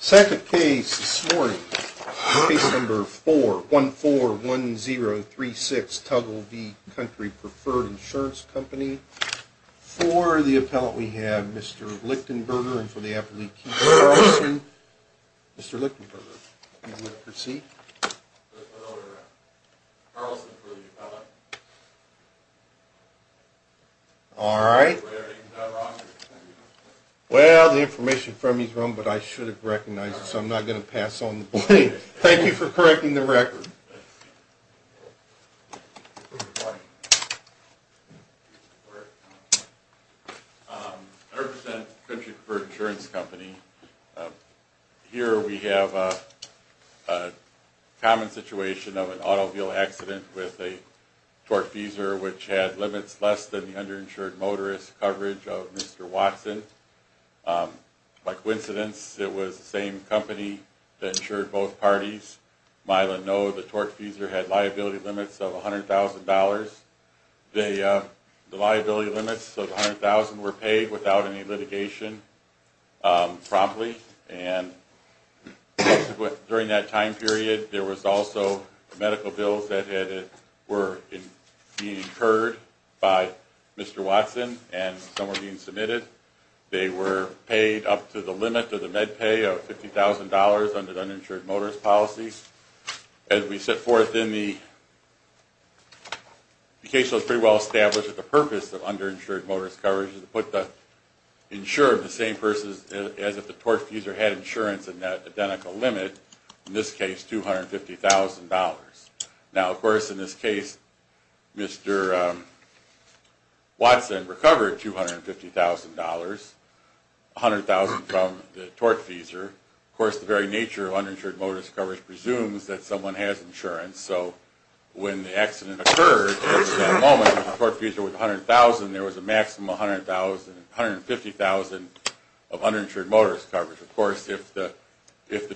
Second case this morning, Case No. 4141036, Tuggle v. Country Preferred Insurance Company, for the appellant we have Mr. Lichtenberger and for the appellant we have Mr. Carlson. Mr. Lichtenberger, if you would proceed. Mr. Lichtenberger, Mr. Carlson for the appellant. All right. Well, the information from me is wrong but I should have recognized it so I'm not going to pass on the blame. Thank you for correcting the record. I represent Country Preferred Insurance Company. Here we have a common situation of an automobile accident with a torque feeser which had limits less than the underinsured motorist coverage of Mr. Watson. By coincidence, it was the same company that insured both parties. Milo and Noah, the torque feeser had liability limits of $100,000. The liability limits of $100,000 were paid without any litigation promptly and during that time period there was also medical bills that were being incurred by Mr. Watson and some were being submitted. They were paid up to the limit of the med pay of $50,000 under the uninsured motorist policies. As we set forth in the case that was pretty well established that the purpose of underinsured motorist coverage is to put the insurer of the same person as if the torque feeser had insurance in that identical limit, in this case $250,000. Now of course in this case Mr. Watson recovered $250,000, $100,000 from the torque feeser. Of course the very nature of uninsured motorist coverage presumes that someone has insurance so when the accident occurred at that moment the torque feeser was $100,000 there was a maximum of $150,000 of uninsured motorist coverage. Of course if the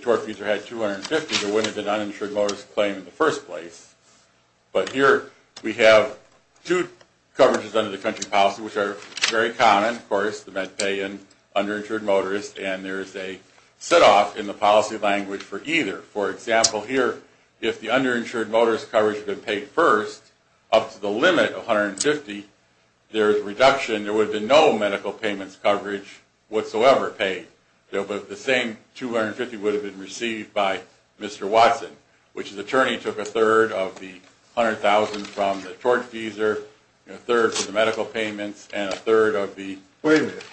torque feeser had $250,000 there wouldn't have been an uninsured motorist claim in the first place. But here we have two coverages under the country policy which are very common. Of course the med pay and underinsured motorist and there is a set off in the policy language for either. For example here if the underinsured motorist coverage had been paid first up to the limit of $150,000 there would have been no medical payments coverage whatsoever paid. But the same $250,000 would have been received by Mr. Watson. Which his attorney took a third of the $100,000 from the torque feeser, a third of the medical payments and a third of the... Wait a minute.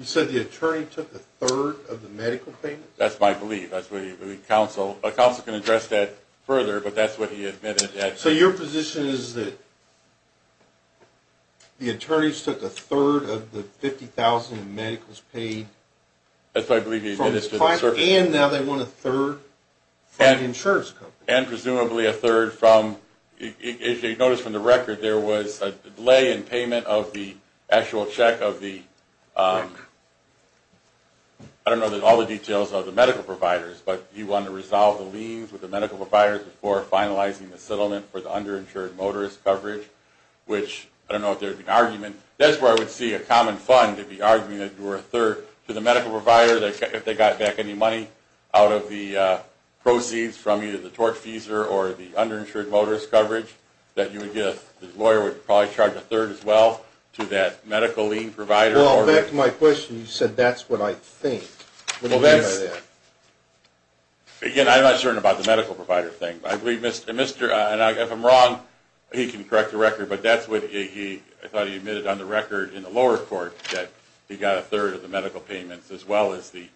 You said the attorney took a third of the medical payments? That's my belief. A counsel can address that further but that's what he admitted. So your position is that the attorneys took a third of the $50,000 of medicals paid? That's what I believe he admitted. And now they want a third from the insurance company. And presumably a third from... If you notice from the record there was a delay in payment of the actual check of the... I don't know all the details of the medical providers but he wanted to resolve the liens with the medical providers before finalizing the settlement for the underinsured motorist coverage. Which I don't know if there would be an argument. That's where I would see a common fund to be arguing that you were a third to the medical provider if they got back any money out of the proceeds from either the torque feeser or the underinsured motorist coverage that you would get. His lawyer would probably charge a third as well to that medical lien provider. Well back to my question. You said that's what I think. Well that's... Again I'm not certain about the medical provider thing. I believe Mr. and if I'm wrong he can correct the record. But that's what I thought he admitted on the record in the lower court that he got a third of the medical payments as well as the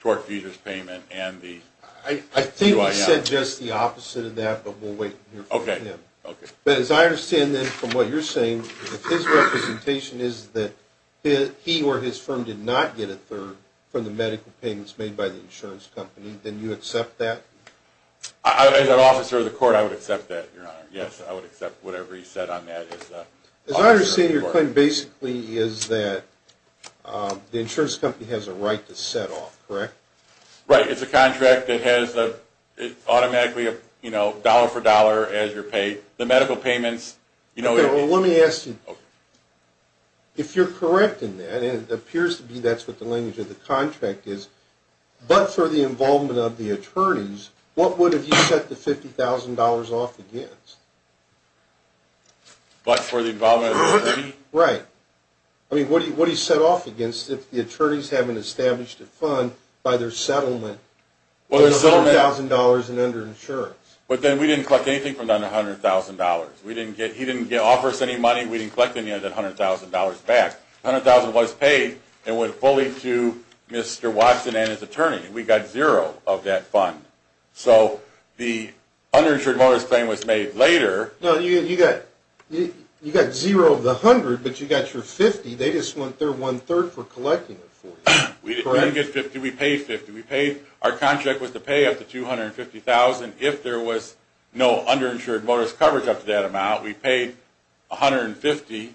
torque feeders payment and the... I think you said just the opposite of that but we'll wait and hear from him. But as I understand then from what you're saying if his representation is that he or his firm did not get a third from the medical payments made by the insurance company then you accept that? As an officer of the court I would accept that, your honor. Yes, I would accept whatever he said on that. As I understand your claim basically is that the insurance company has a right to set off, correct? Right. It's a contract that has automatically dollar for dollar as you're paid. The medical payments... Well let me ask you, if you're correct in that and it appears to be that's what the language of the contract is, but for the involvement of the attorneys what would have you set the $50,000 off against? But for the involvement of the attorney? Right. I mean what do you set off against if the attorneys haven't established a fund by their settlement for the $100,000 in under insurance? But then we didn't collect anything from under $100,000. He didn't offer us any money. We didn't collect any of that $100,000 back. $100,000 was paid and went fully to Mr. Watson and his attorney. We got zero of that fund. So the underinsured motorist claim was made later. No, you got zero of the $100,000 but you got your $50,000. They just want their one-third for collecting it for you. We didn't get $50,000. We paid $50,000. Our contract was to pay up to $250,000 if there was no underinsured motorist coverage up to that amount. We paid $150,000.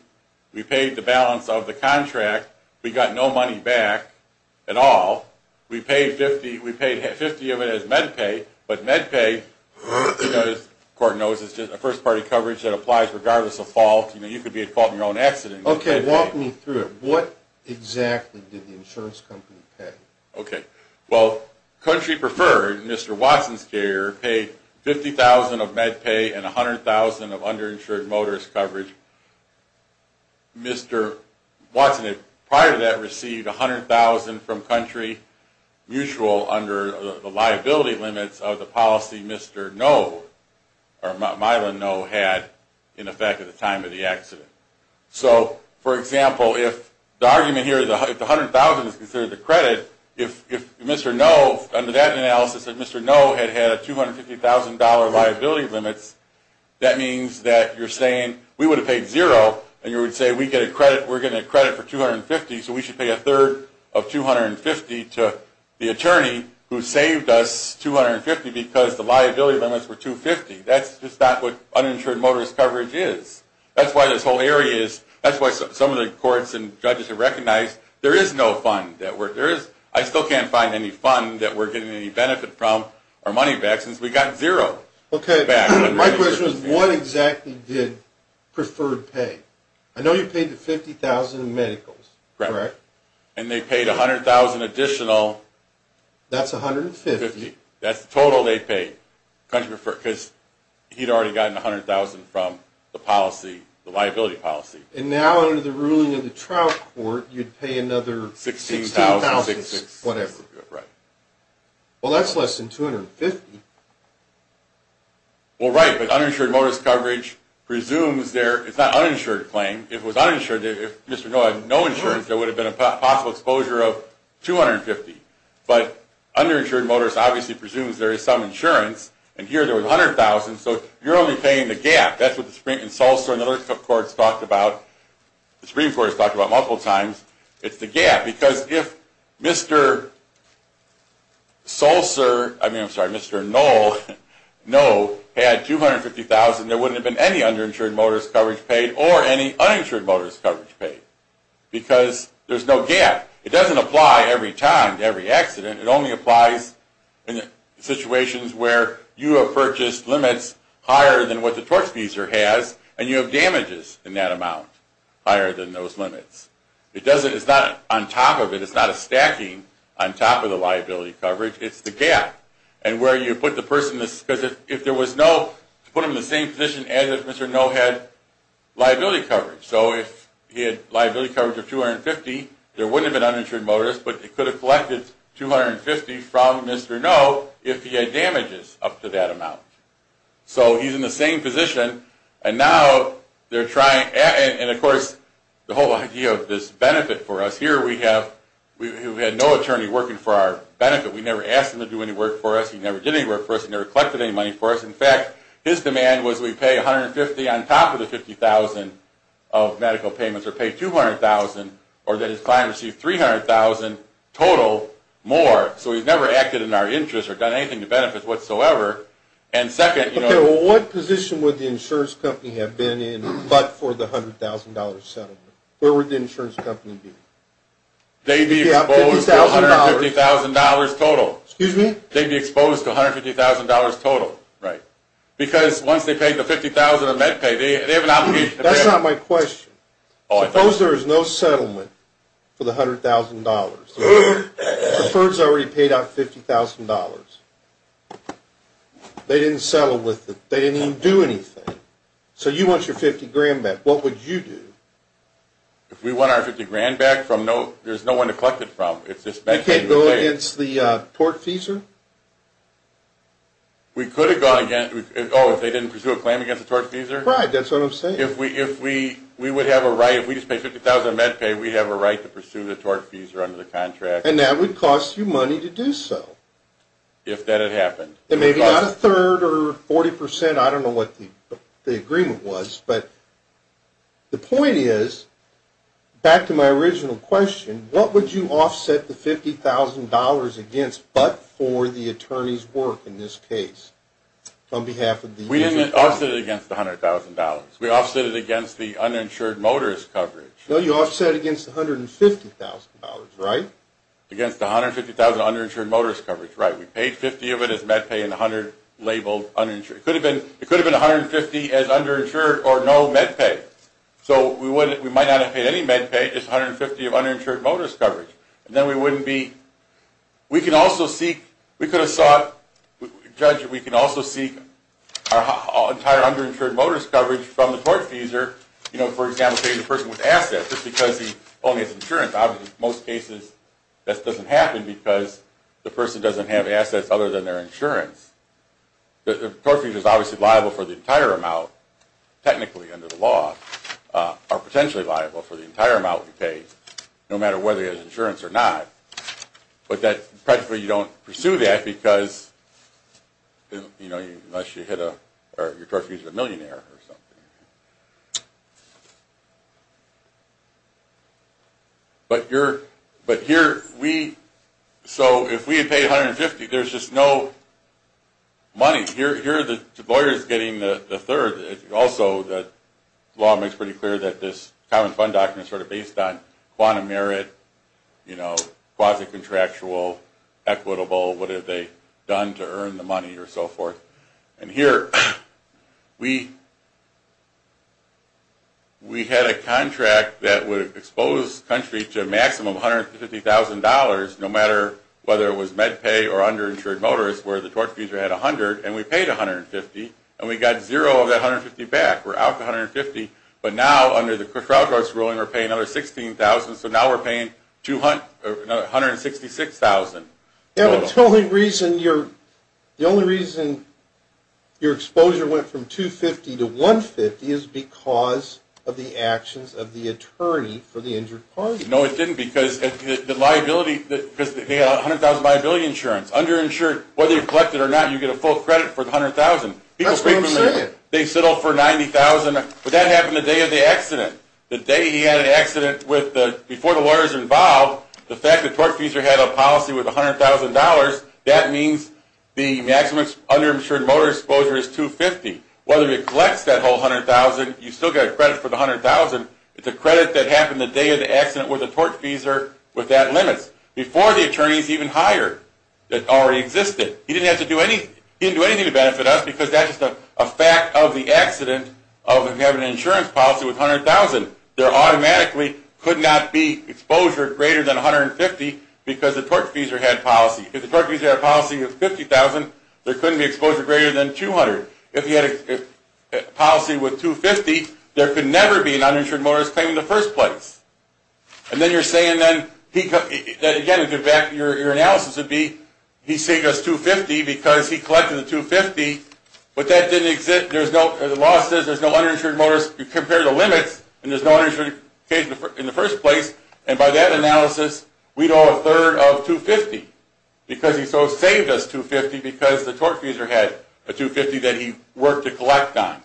We paid the balance of the contract. We got no money back at all. We paid $50,000. We paid $50,000 of it as med pay. But med pay, as the court knows, is just a first-party coverage that applies regardless of fault. You could be at fault in your own accident. Okay. Walk me through it. What exactly did the insurance company pay? Okay. Well, Country Preferred, Mr. Watson's carrier, paid $50,000 of med pay and $100,000 of underinsured motorist coverage. Mr. Watson, prior to that, received $100,000 from Country Mutual under the liability limits of the policy Mr. Ngo, or Mylon Ngo, had in effect at the time of the accident. So, for example, if the argument here, if the $100,000 is considered the credit, if Mr. Ngo, under that analysis, if Mr. Ngo had had $250,000 liability limits, that means that you're saying, we would have paid zero, and you would say, we're getting a credit for $250,000, so we should pay a third of $250,000 to the attorney who saved us $250,000 because the liability limits were $250,000. That's just not what uninsured motorist coverage is. That's why this whole area is, that's why some of the courts and judges have recognized there is no fund that we're, there is, I still can't find any fund that we're getting any benefit from or money back since we got zero. Okay. My question is, what exactly did Preferred pay? I know you paid the $50,000 in medicals, correct? Correct. And they paid $100,000 additional. That's $150,000. $150,000. That's the total they paid. Country Preferred, because he'd already gotten $100,000 from the policy, the liability policy. And now under the ruling of the Trout Court, you'd pay another $16,000, whatever. Right. Well, that's less than $250,000. Well, right, but uninsured motorist coverage presumes there, it's not an uninsured claim, if it was uninsured, if Mr. Noe had no insurance, there would have been a possible exposure of $250,000. But underinsured motorist obviously presumes there is some insurance, and here there was $100,000, so you're only paying the gap. That's what the Supreme Court has talked about multiple times. It's the gap. Because if Mr. Noe had $250,000, there wouldn't have been any underinsured motorist coverage paid or any uninsured motorist coverage paid. Because there's no gap. It doesn't apply every time, to every accident. It only applies in situations where you have purchased limits higher than what the torque speedster has, and you have damages in that amount, higher than those limits. It doesn't, it's not on top of it, it's not a stacking on top of the liability coverage, it's the gap. And where you put the person, because if there was no, to put them in the same position as if Mr. Noe had liability coverage. So if he had liability coverage of $250,000, there wouldn't have been uninsured motorist, but he could have collected $250,000 from Mr. Noe if he had damages up to that amount. So he's in the same position, and now they're trying, and of course the whole idea of this benefit for us, here we have, we had no attorney working for our benefit. We never asked him to do any work for us, he never did any work for us, he never collected any money for us. In fact, his demand was we pay $150,000 on top of the $50,000 of medical payments, or pay $200,000, or that his client receive $300,000 total more. So he's never acted in our interest or done anything to benefit whatsoever. And second, you know. Okay, well what position would the insurance company have been in but for the $100,000 settlement? Where would the insurance company be? They'd be exposed to $150,000 total. Excuse me? They'd be exposed to $150,000 total. Right. Because once they paid the $50,000 of med pay, they have an obligation. That's not my question. Suppose there is no settlement for the $100,000. The FERS already paid out $50,000. They didn't settle with it. They didn't even do anything. So you want your $50,000 back. What would you do? If we want our $50,000 back, there's no one to collect it from. You can't go against the tortfeasor? We could have gone against. Oh, if they didn't pursue a claim against the tortfeasor? Right, that's what I'm saying. If we would have a right. If we just paid $50,000 of med pay, we have a right to pursue the tortfeasor under the contract. And that would cost you money to do so. If that had happened. It may be not a third or 40%. I don't know what the agreement was. But the point is, back to my original question, what would you offset the $50,000 against but for the attorney's work in this case? On behalf of the user? We didn't offset it against the $100,000. We offset it against the uninsured motorist coverage. No, you offset it against the $150,000, right? Against the $150,000 of uninsured motorist coverage, right. We paid $50,000 of it as med pay and $100,000 labeled uninsured. It could have been $150,000 as underinsured or no med pay. So we might not have paid any med pay, just $150,000 of uninsured motorist coverage. And then we wouldn't be. We can also seek. We could have sought. Judge, we can also seek our entire underinsured motorist coverage from the tortfeasor. You know, for example, paying the person with assets just because he only has insurance. Obviously, in most cases, that doesn't happen because the person doesn't have assets other than their insurance. The tortfeasor is obviously liable for the entire amount, technically under the law, or potentially liable for the entire amount we pay, no matter whether he has insurance or not. But that, practically, you don't pursue that because, you know, unless you hit a, or your tortfeasor is a millionaire or something. But here, we, so if we had paid $150,000, there's just no money. Here, the lawyer is getting the third. Also, the law makes pretty clear that this common fund document is sort of based on quantum merit, you know, quasi-contractual, equitable, what have they done to earn the money, or so forth. And here, we, we had a contract that would expose the country to a maximum of $150,000, no matter whether it was MedPay or underinsured motorists, where the tortfeasor had $100,000, and we paid $150,000, and we got zero of that $150,000 back. We're out to $150,000, but now, under the crowd source ruling, we're paying another $16,000, so now we're paying $166,000. Yeah, but the only reason your, the only reason your exposure went from $250,000 to $150,000 is because of the actions of the attorney for the injured party. No, it didn't, because the liability, because they had $100,000 liability insurance. Underinsured, whether you collect it or not, you get a full credit for the $100,000. That's what I'm saying. They settled for $90,000, but that happened the day of the accident. The day he had an accident with the, before the lawyers were involved, the fact that the tortfeasor had a policy with $100,000, that means the maximum underinsured motorist exposure is $250,000. Whether he collects that whole $100,000, you still get a credit for the $100,000. It's a credit that happened the day of the accident with the tortfeasor with that limit, before the attorneys even hired that already existed. He didn't have to do anything, he didn't do anything to benefit us, because that's just a fact of the accident of having an insurance policy with $100,000. There automatically could not be exposure greater than $150,000, because the tortfeasor had a policy. If the tortfeasor had a policy of $50,000, there couldn't be exposure greater than $200,000. If he had a policy with $250,000, there could never be an underinsured motorist claim in the first place. And then you're saying then, again, your analysis would be, he saved us $250,000 because he collected the $250,000, but that didn't exist. The law says there's no underinsured motorist. You compare the limits, and there's no underinsured motorist in the first place. And by that analysis, we know a third of $250,000, because he saved us $250,000 because the tortfeasor had a $250,000 that he worked to collect on.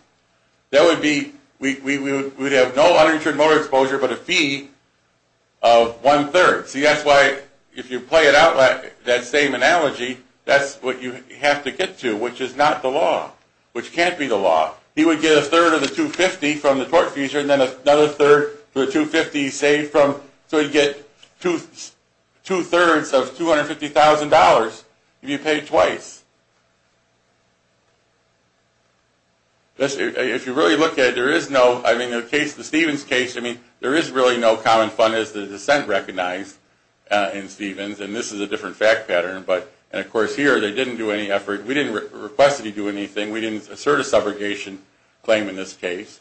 We would have no underinsured motorist exposure, but a fee of one-third. See, that's why, if you play it out like that same analogy, that's what you have to get to, which is not the law. Which can't be the law. He would get a third of the $250,000 from the tortfeasor, and then another third of the $250,000 saved from, so he'd get two-thirds of $250,000 if you paid twice. If you really look at it, there is no, I mean, in the case, the Stevens case, I mean, there is really no common fund as the dissent recognized in Stevens, and this is a different fact pattern, but, and of course here, they didn't do any effort. We didn't request that he do anything. We didn't assert a subrogation claim in this case.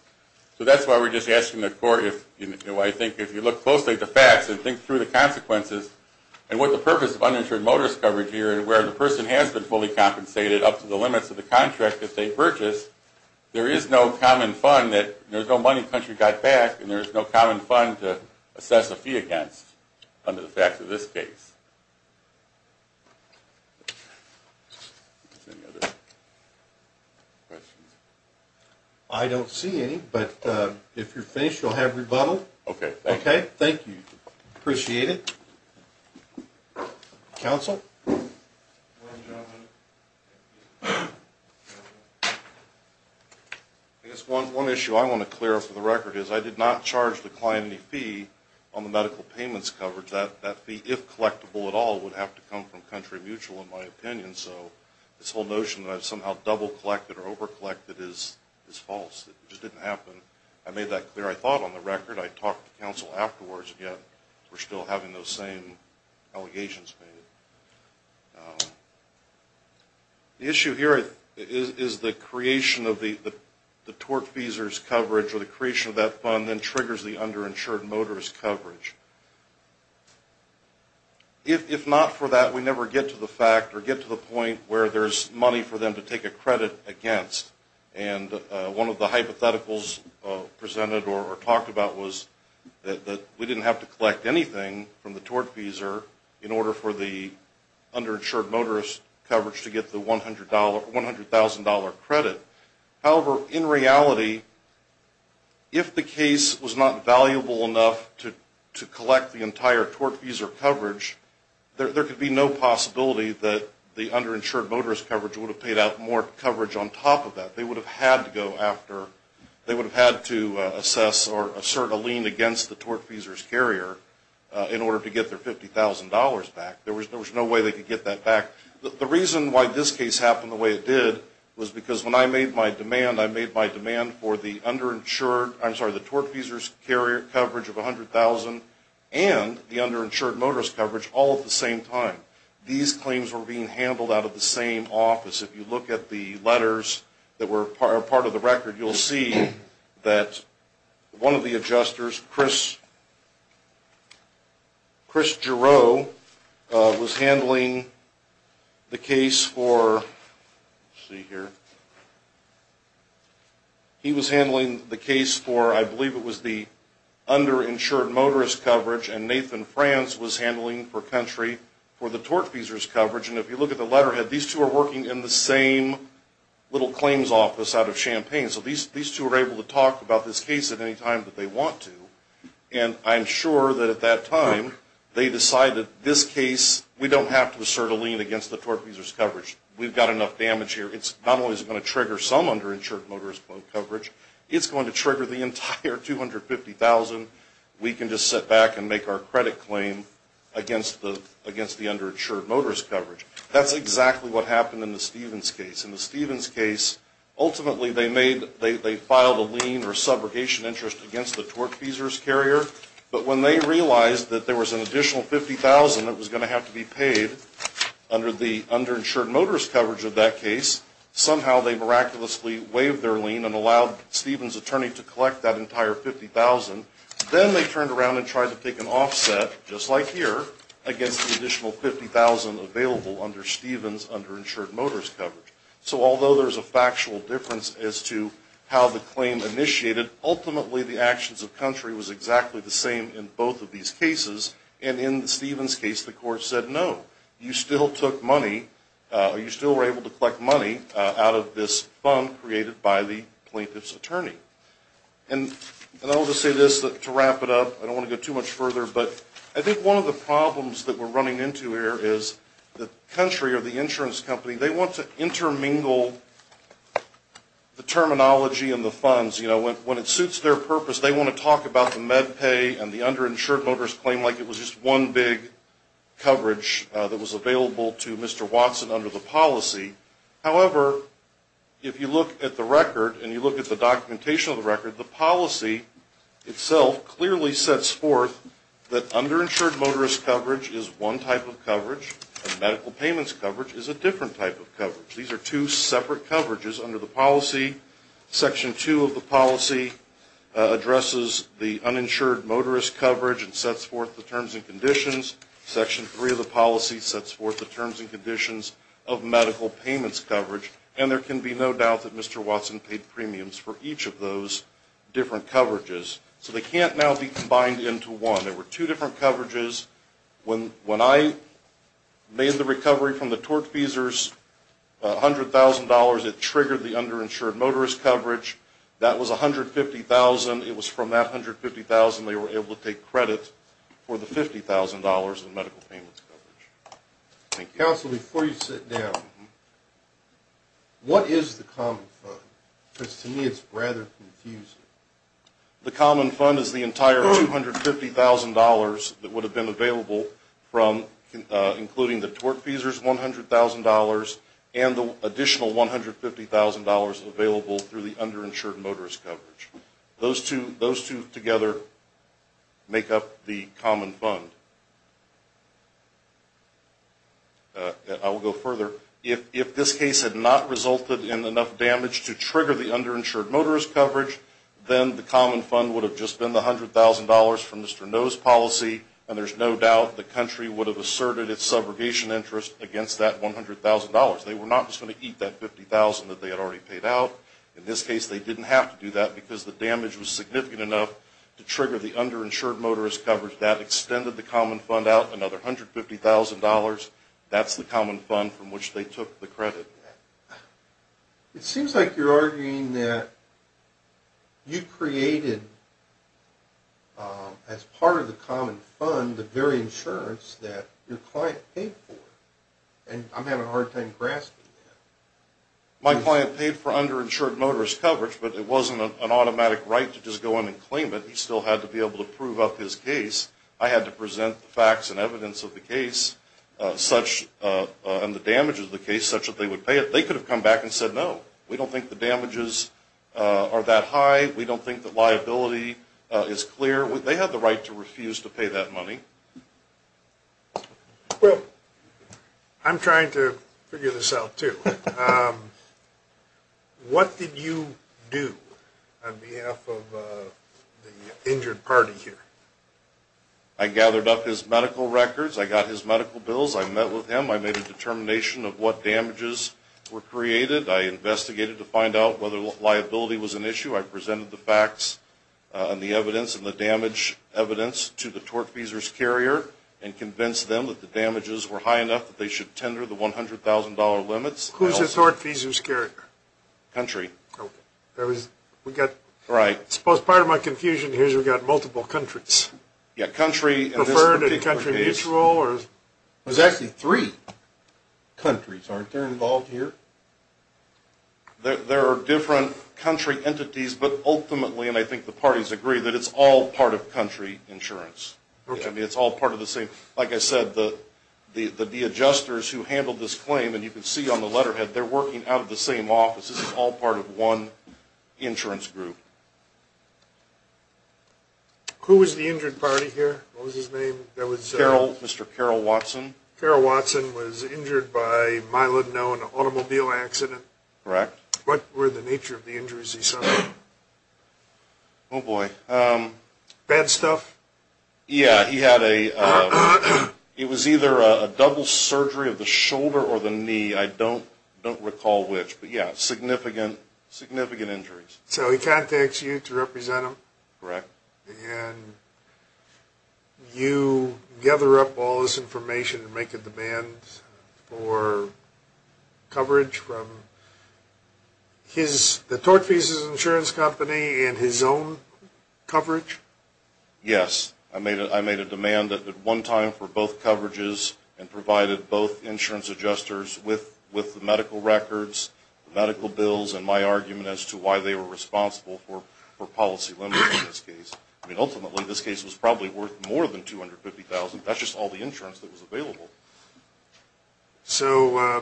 So that's why we're just asking the court if, you know, I think if you look closely at the facts and think through the consequences, and what the purpose of underinsured motorist coverage here, where the person has been fully compensated up to the limits of the contract that they purchased, there is no common fund that, there's no money the country got back, and there's no common fund to assess a fee against under the facts of this case. Any other questions? I don't see any, but if you're finished, you'll have rebuttal. Okay. Okay? Thank you. Appreciate it. Counsel? I guess one issue I want to clear up for the record is I did not charge the client any fee on the medical payments coverage. That fee, if collectible at all, would have to come from Country Mutual, in my opinion, so this whole notion that I've somehow double-collected or over-collected is false. It just didn't happen. I made that clear, I thought, on the record. I talked to counsel afterwards, and yet we're still having those same allegations made. The issue here is the creation of the tort-feasors coverage, or the creation of that fund then triggers the underinsured motorist coverage. If not for that, we never get to the fact or get to the point where there's money for them to take a credit against. And one of the hypotheticals presented or talked about was that we didn't have to collect anything from the tort-feasor in order for the underinsured motorist coverage to get the $100,000 credit. However, in reality, if the case was not valuable enough to collect the entire tort-feasor coverage, there could be no possibility that the underinsured motorist coverage would have paid out more coverage on top of that. They would have had to assess or assert a lien against the tort-feasors carrier in order to get their $50,000 back. There was no way they could get that back. The reason why this case happened the way it did was because when I made my demand, I made my demand for the underinsured, I'm sorry, the tort-feasors carrier coverage of $100,000 and the underinsured motorist coverage all at the same time. These claims were being handled out of the same office. If you look at the letters that were part of the record, you'll see that one of the adjusters, Chris Giro, was handling the case for, let's see here, he was handling the case for, I believe it was the underinsured motorist coverage, and Nathan Franz was handling for country for the tort-feasors coverage. And if you look at the letterhead, these two are working in the same little claims office out of Champaign. So these two are able to talk about this case at any time that they want to. And I'm sure that at that time, they decided this case, we don't have to assert a lien against the tort-feasors coverage. We've got enough damage here. It's not only going to trigger some underinsured motorist coverage, it's going to trigger the entire $250,000. We can just sit back and make our credit claim against the underinsured motorist coverage. That's exactly what happened in the Stevens case. In the Stevens case, ultimately they filed a lien or subrogation interest against the tort-feasors carrier. But when they realized that there was an additional $50,000 that was going to have to be paid under the underinsured motorist coverage of that case, somehow they miraculously waived their lien and allowed Stevens' attorney to collect that entire $50,000. Then they turned around and tried to pick an offset, just like here, against the additional $50,000 available under Stevens' underinsured motorist coverage. So although there's a factual difference as to how the claim initiated, ultimately the actions of Country was exactly the same in both of these cases. And in the Stevens case, the court said, no, you still took money, or you still were able to collect money out of this fund created by the plaintiff's attorney. And I'll just say this to wrap it up. I don't want to go too much further, but I think one of the problems that we're running into here is that Country or the insurance company, they want to intermingle the terminology and the funds. It suits their purpose. They want to talk about the MedPay and the underinsured motorist claim like it was just one big coverage that was available to Mr. Watson under the policy. However, if you look at the record and you look at the documentation of the record, the policy itself clearly sets forth that underinsured motorist coverage is one type of coverage and medical payments coverage is a different type of coverage. These are two separate coverages under the policy. Section 2 of the policy addresses the uninsured motorist coverage and sets forth the terms and conditions. Section 3 of the policy sets forth the terms and conditions of medical payments coverage. And there can be no doubt that Mr. Watson paid premiums for each of those different coverages. So they can't now be combined into one. There were two different coverages. When I made the recovery from the tortfeasors, $100,000, it triggered the underinsured motorist coverage. That was $150,000. It was from that $150,000 they were able to take credit for the $50,000 in medical payments coverage. Thank you. Counsel, before you sit down, what is the common fund? Because to me it's rather confusing. The common fund is the entire $150,000 that would have been available from including the tortfeasors' $100,000 and the additional $150,000 available through the underinsured motorist coverage. Those two together make up the common fund. I will go further. If this case had not resulted in enough damage to trigger the underinsured motorist coverage, then the common fund would have just been the $100,000 from Mr. No's policy, and there's no doubt the country would have asserted its subrogation interest against that $100,000. They were not just going to eat that $50,000 that they had already paid out. In this case, they didn't have to do that because the damage was significant enough to trigger the underinsured motorist coverage. That extended the common fund out another $150,000. That's the common fund from which they took the credit. It seems like you're arguing that you created, as part of the common fund, the very insurance that your client paid for. I'm having a hard time grasping that. My client paid for underinsured motorist coverage, but it wasn't an automatic right to just go in and claim it. He still had to be able to prove up his case. I had to present the facts and evidence of the case and the damage of the case such that they would pay it. They could have come back and said, no, we don't think the damages are that high. We don't think the liability is clear. They have the right to refuse to pay that money. I'm trying to figure this out, too. What did you do on behalf of the injured party here? I gathered up his medical records. I met with him. I made a determination of what damages were created. I investigated to find out whether liability was an issue. I presented the facts and the evidence and the damage evidence to the tortfeasor's carrier and convinced them that the damages were high enough that they should tender the $100,000 limits. Who's the tortfeasor's carrier? Country. Part of my confusion here is we've got multiple countries. Preferred to be country mutual? There's actually three countries, aren't there, involved here? There are different country entities, but ultimately, and I think the parties agree, that it's all part of country insurance. It's all part of the same. Like I said, the adjusters who handled this claim, and you can see on the letterhead, they're working out of the same office. This is all part of one insurance group. Who was the injured party here? What was his name? Mr. Carol Watson. Carol Watson was injured by a milo-known automobile accident. Correct. What were the nature of the injuries he suffered? Oh, boy. Bad stuff? Yeah, he had a, it was either a double surgery of the shoulder or the knee. I don't recall which, but yeah, significant injuries. So he contacts you to represent him? Correct. And you gather up all this information and make a demand for coverage from his, the Torch Pieces Insurance Company, and his own coverage? Yes. I made a demand at one time for both coverages and provided both insurance adjusters with the medical records, medical bills, and my argument as to why they were responsible for policy limits in this case. I mean, ultimately, this case was probably worth more than $250,000. That's just all the insurance that was available. So,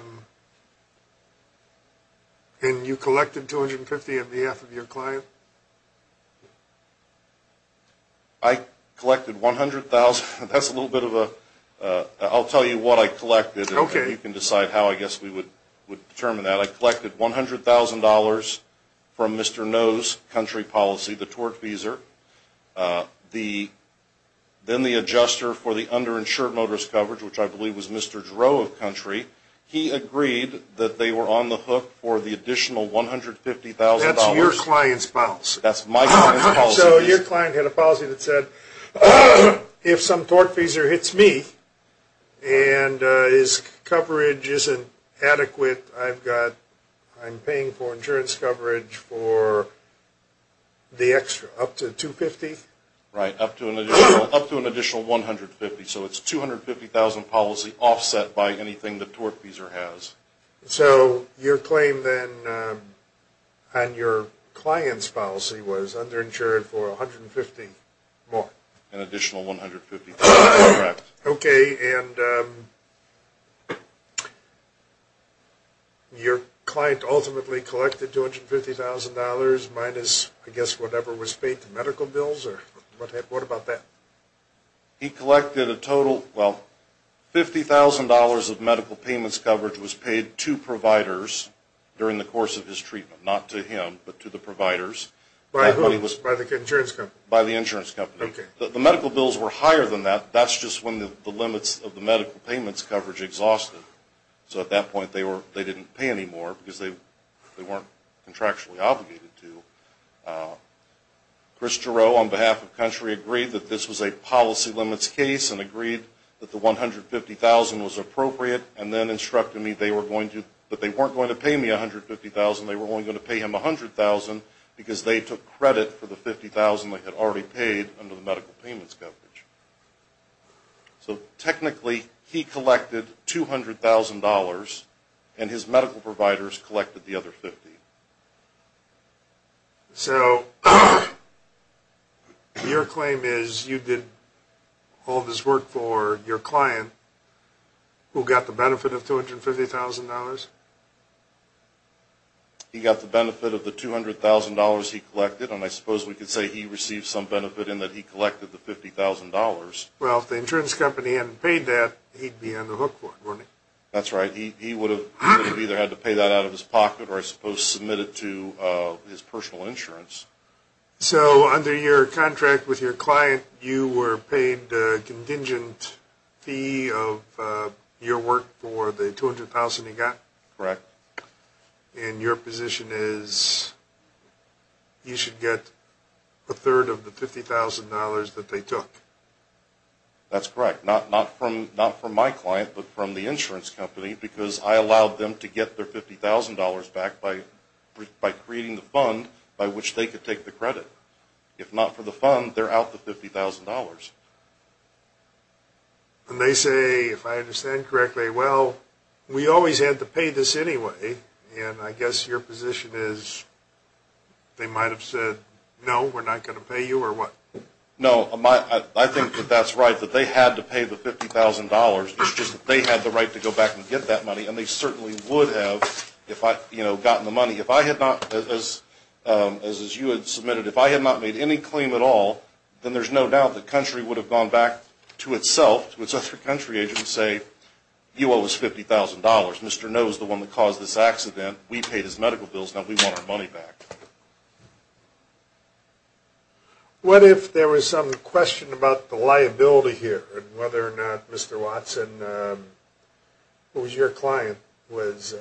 and you collected $250,000 on behalf of your client? I collected $100,000. That's a little bit of a, I'll tell you what I collected, and you can decide how I guess we would determine that. I collected $100,000 from Mr. Noh's country policy, the Torch Feeser, then the adjuster for the underinsured motorist coverage, which I believe was Mr. Dro of country. He agreed that they were on the hook for the additional $150,000. That's your client's policy? That's my client's policy. So your client had a policy that said, if some Torch Feeser hits me and his coverage isn't adequate, I've got, I'm paying for insurance coverage for the extra, up to $250,000? Right, up to an additional $150,000. So it's $250,000 policy offset by anything the Torch Feeser has. So your claim then on your client's policy was underinsured for $150,000 more? An additional $150,000, correct. Okay, and your client ultimately collected $250,000 minus, I guess, whatever was paid to medical bills? What about that? He collected a total, well, $50,000 of medical payments coverage was paid to providers during the course of his treatment. Not to him, but to the providers. By whom? By the insurance company? By the insurance company. Okay. The medical bills were higher than that. That's just when the limits of the medical payments coverage exhausted. So at that point, they didn't pay any more because they weren't contractually obligated to. Chris Jarreau, on behalf of Country, agreed that this was a policy limits case and agreed that the $150,000 was appropriate and then instructed me they were going to, but they weren't going to pay me $150,000. They were only going to pay him $100,000 because they took credit for the $50,000 they had already paid under the medical payments coverage. So technically, he collected $200,000 and his medical providers collected the other $50,000. So, your claim is you did all this work for your client who got the benefit of $250,000? He got the benefit of the $200,000 he collected and I suppose we could say he received some benefit in that he collected the $50,000. Well, if the insurance company hadn't paid that, he'd be on the hook for it, wouldn't he? That's right. He would have either had to pay that out of his pocket or I suppose submitted it to his personal insurance. So, under your contract with your client, you were paid a contingent fee of your work for the $200,000 he got? Correct. And your position is you should get a third of the $50,000 that they took? That's correct. Not from my client, but from the insurance company because I allowed them to get their $50,000 back by creating the fund by which they could take the credit. If not for the fund, they're out the $50,000. And they say, if I understand correctly, well, we always had to pay this anyway and I guess your position is they might have said, no, we're not going to pay you or what? No, I think that that's right, that they had to pay the $50,000. It's just that they had the right to go back and get that money and they certainly would have gotten the money. If I had not, as you had submitted, if I had not made any claim at all, then there's no doubt the country would have gone back to itself, to its own country agent and say, you owe us $50,000. Mr. No was the one that caused this accident. We paid his medical bills. Now we want our money back. What if there was some question about the liability here and whether or not Mr. Watson, who was your client, was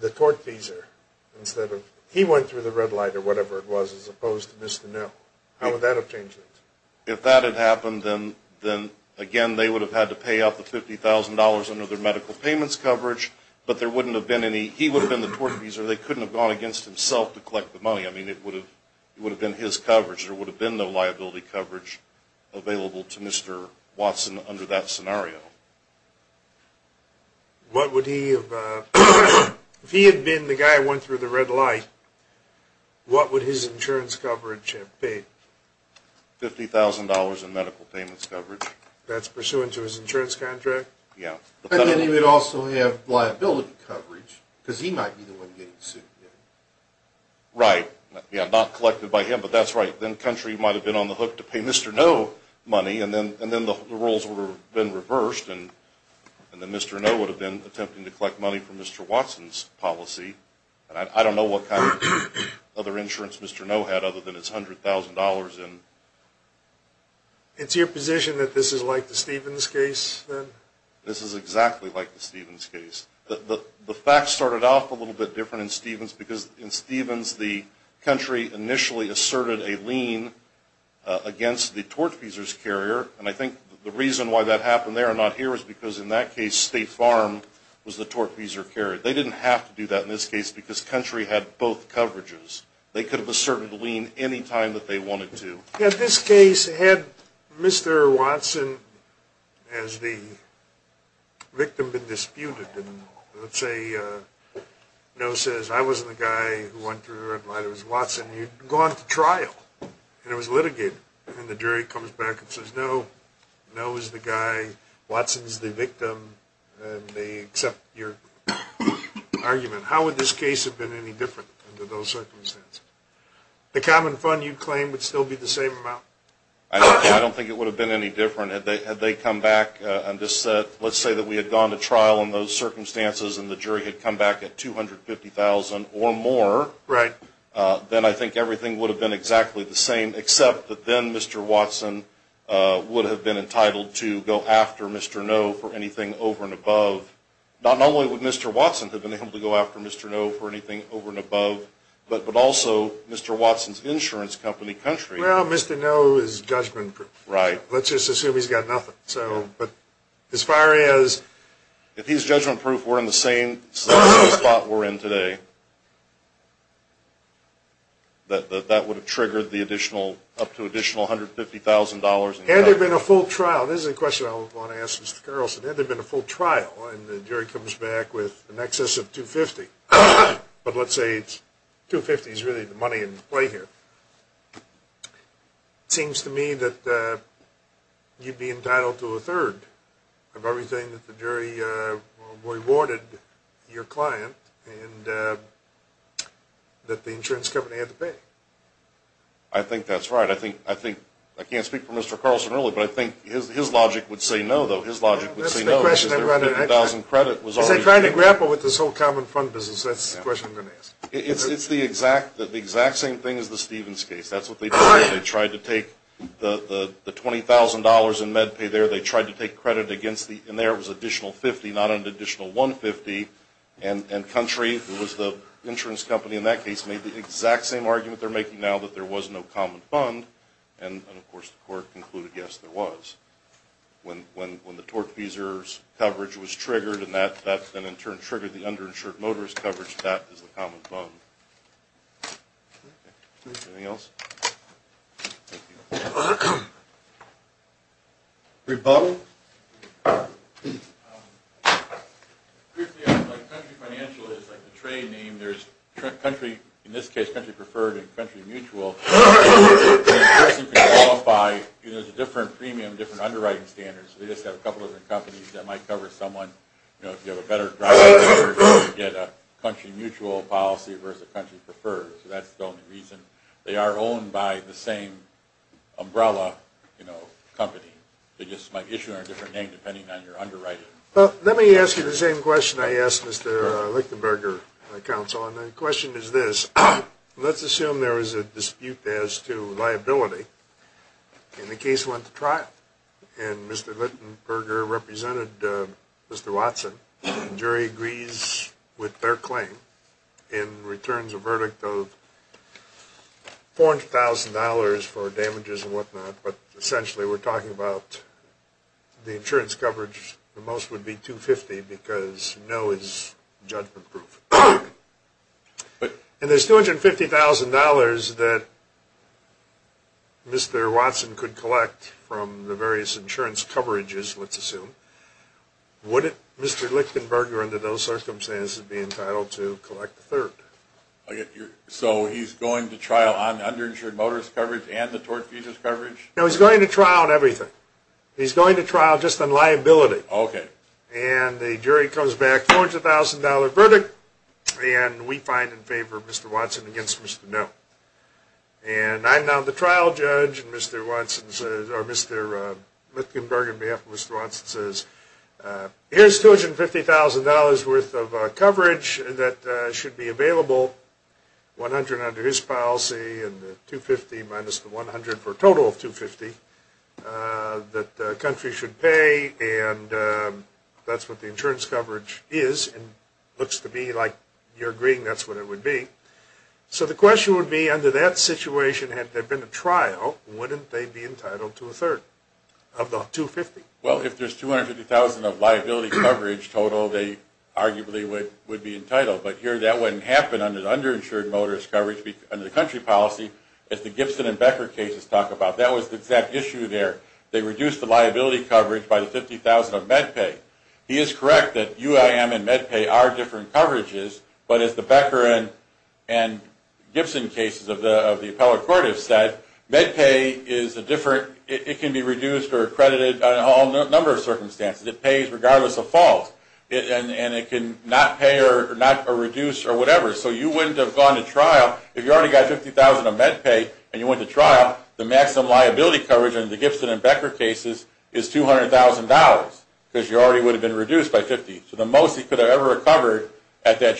the tortfeasor? He went through the red light or whatever it was as opposed to Mr. No. How would that have changed things? If that had happened, then again, they would have had to pay out the $50,000 under their medical payments coverage, but there wouldn't have been any, he would have been the tortfeasor. They couldn't have gone against himself to collect the money. It would have been his coverage. There would have been no liability coverage available to Mr. Watson under that scenario. If he had been the guy who went through the red light, what would his insurance coverage have been? $50,000 in medical payments coverage. That's pursuant to his insurance contract? Yeah. Then he would also have liability coverage because he might be the one getting sued. Right. Not collected by him, but that's right. Then Country might have been on the hook to pay Mr. No money, and then the roles would have been reversed. Then Mr. No would have been attempting to collect money from Mr. Watson's policy. I don't know what kind of other insurance Mr. No had other than his $100,000. It's your position that this is like the Stevens case? This is exactly like the Stevens case. The facts started off a little bit different in Stevens because in Stevens, the Country initially asserted a lien against the tortfeasor's carrier, and I think the reason why that happened there and not here is because in that case, State Farm was the tortfeasor carrier. They didn't have to do that in this case because Country had both coverages. They could have asserted a lien any time that they wanted to. In this case, had Mr. Watson as the victim been disputed, and let's say No says, I wasn't the guy who went through and why it was Watson, you'd go on to trial and it was litigated, and the jury comes back and says, No, No is the guy, Watson's the victim, and they accept your argument. How would this case have been any different under those circumstances? Would the human fund you claim would still be the same amount? I don't think it would have been any different. Had they come back and just said, let's say that we had gone to trial in those circumstances and the jury had come back at $250,000 or more, then I think everything would have been exactly the same, except that then Mr. Watson would have been entitled to go after Mr. No for anything over and above. Not only would Mr. Watson have been able to go after Mr. No for anything over and above, but also Mr. Watson's insurance company country. Well, Mr. No is judgment proof. Right. Let's just assume he's got nothing. As far as... If his judgment proof were in the same spot we're in today, that would have triggered the additional, up to additional $150,000. Had there been a full trial, this is a question I want to ask Mr. Carlson, had there been a full trial and the jury comes back with an excess of $250,000, but let's say it's $250,000 is really the money in play here, it seems to me that you'd be entitled to a third of everything that the jury rewarded your client and that the insurance company had to pay. I think that's right. I think... I can't speak for Mr. Carlson really, but I think his logic would say no though. His logic would say no because their $50,000 credit was already... That's the question I'm going to ask. It's the exact same thing as the Stevens case. That's what they did. They tried to take the $20,000 in med pay there. They tried to take credit against the... and there was an additional $50,000 not an additional $150,000 and Country, who was the insurance company in that case, made the exact same argument they're making now that there was no common fund and of course the court concluded yes there was. When the torque feesers coverage that is the common fund. Anything else? Thank you. Great. Bob? Country Financial is like the trade name. There's Country, in this case Country Preferred and Country Mutual where a person can qualify because there's a different premium, different underwriting standards. They just have a couple of different companies that might cover someone. If you have a better driver's license you get a Country Mutual policy versus a Country Preferred so that's the only reason. They are owned by the same umbrella company. They just might issue a different name depending on your underwriting. Let me ask you the same question I asked Mr. Lichtenberger, counsel, and the question is this. Let's assume there is a dispute as to liability and the case went to trial and Mr. Lichtenberger represented Mr. Watson. The jury agrees with their claim and returns a verdict of $400,000 for damages and what not but essentially we're talking about the insurance coverage the most would be $250,000 because no is judgment proof. And there's $250,000 that Mr. Watson could collect from the various insurance coverages let's assume. Would Mr. Lichtenberger under those circumstances be entitled to collect a third? So he's going to trial on underinsured motorist coverage and the torque features coverage? No, he's going to trial on everything. He's going to trial just on liability and the jury comes back $400,000 verdict and we find in favor of Mr. Watson against Mr. No. And I'm now the trial judge and Mr. Watson says or Mr. Lichtenberger on behalf of Mr. Watson says here's $250,000 worth of coverage that should be available $100,000 under his policy and the $250,000 minus the $100,000 for a total of $250,000 that the country should pay and that's what the insurance coverage is and looks to be like you're agreeing that's what it would be. So the question would be if the situation had been a trial wouldn't they be entitled to a third of the $250,000? Well if there's $250,000 of liability coverage total they arguably would be entitled but here that wouldn't happen under the underinsured motorist coverage under the country policy as the Gibson and Becker cases talk about. That was the exact issue there. They reduced the liability coverage by the $50,000 of MedPay. He is correct that UIM and MedPay are different coverages and that's what the court has said. MedPay is a different it can be reduced or accredited under a number of circumstances. It pays regardless of fault and it can not pay or not reduce or whatever so you wouldn't have gone to trial if you already got $50,000 of MedPay and you went to trial the maximum liability coverage under the Gibson and Becker cases is $200,000 because you already would have been reduced by $50,000 so the most he could have ever recovered would be a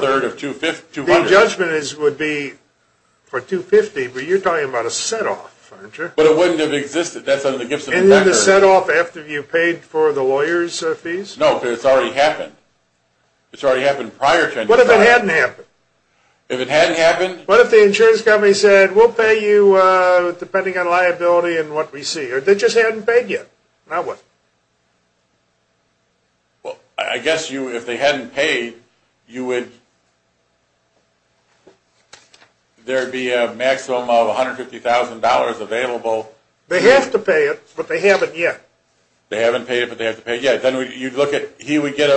third of $200,000. The judgment would be for $250,000 but you are talking about a set off. But it wouldn't have existed that's under the Gibson and Becker. Isn't it a set off after you paid for the lawyers fees? No, but it's already happened. It's already happened prior to. What if it hadn't happened? If it hadn't happened? What if the insurance company said we'll pay you depending on liability and what we see or they just hadn't paid yet. I guess if they hadn't paid there would be a maximum of $150,000 available. They have to pay it but they haven't yet. They haven't paid it but they have to pay it yet. Then he would get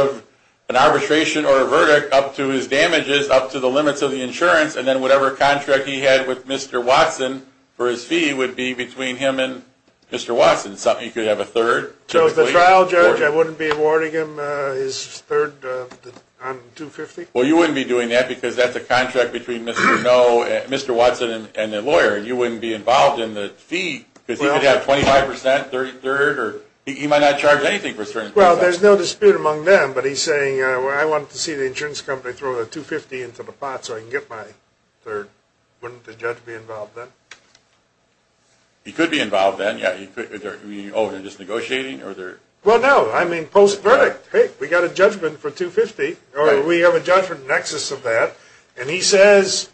an arbitration or a verdict up to his damages up to the limits of the insurance and then whatever contract he had with Mr. Watson for his fee would be between him and Mr. Watson. He could have a third. So as the trial judge I wouldn't be awarding him but you wouldn't be doing that because that's a contract between Mr. Watson and the lawyer and you wouldn't be involved in the fee because he could have 25%, 33% or he might not charge anything. Well, there's no dispute among them but he's saying I want to see the insurance company throw a $250,000 into the pot so I can get my third. Wouldn't the judge be involved then? He could be involved then. Oh, they're just negotiating? Well, no. There's no nexus of that and he says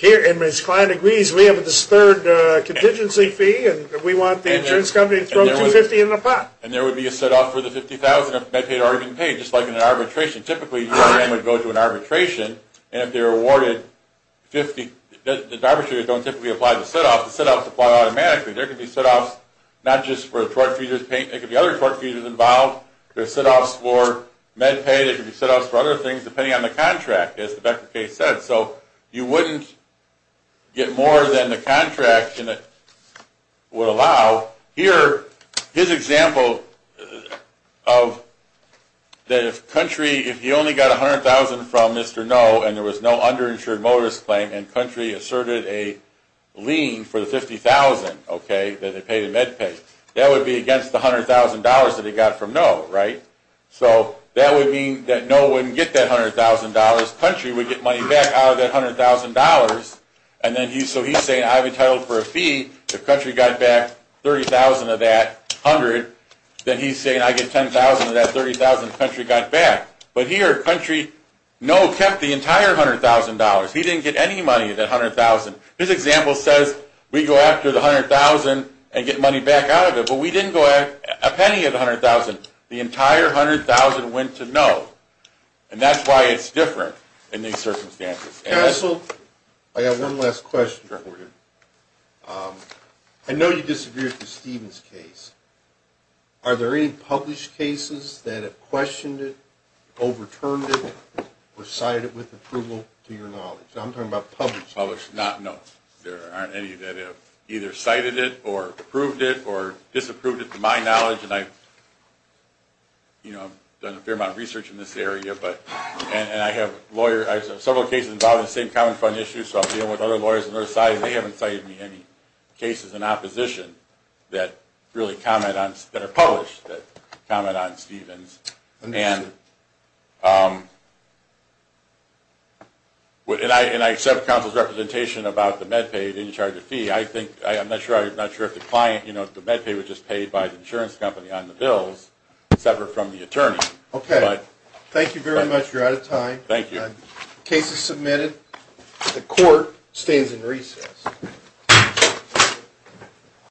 and his client agrees we have this third contingency fee and we want the insurance company to throw $250,000 in the pot. And there would be a set-off for the $50,000 if MedPay had already been paid just like in an arbitration. Typically, your claim would go to an arbitration and if they're awarded $50,000 the arbitrators don't typically apply the set-off. The set-offs apply automatically. There could be set-offs not just for the truck feeders but for other things depending on the contract as the Becker case said. So you wouldn't get more than the contract would allow. Here, his example of that if Country if he only got $100,000 from Mr. No and there was no underinsured motorist claim and Country asserted a lien for the $50,000 that he paid in MedPay that would be against the $100,000 that he got from No, right? If he only got $100,000 Country would get money back out of that $100,000 so he's saying I've entitled for a fee if Country got back $30,000 of that $100,000 then he's saying I get $10,000 of that $30,000 Country got back. But here, Country, No kept the entire $100,000. He didn't get any money of that $100,000. His example says we go after the $100,000 and get money back out of it but we didn't go after and that's why it's different in these circumstances. Counsel, I have one last question. I know you disagreed with the Stevens case. Are there any published cases that have questioned it overturned it or cited it with approval to your knowledge? I'm talking about published cases. Published, no. There aren't any that have either cited it or approved it or disapproved it to my knowledge and I have several cases involved in the same common fund issue so I'm dealing with other lawyers on the other side and they haven't cited me any cases in opposition that are published that comment on Stevens. And I accept counsel's representation about the MedPay and the charge of fee. was just paid by the insurance company on the bills separate from the attorney. Thank you. The case is submitted. The court stands in recess.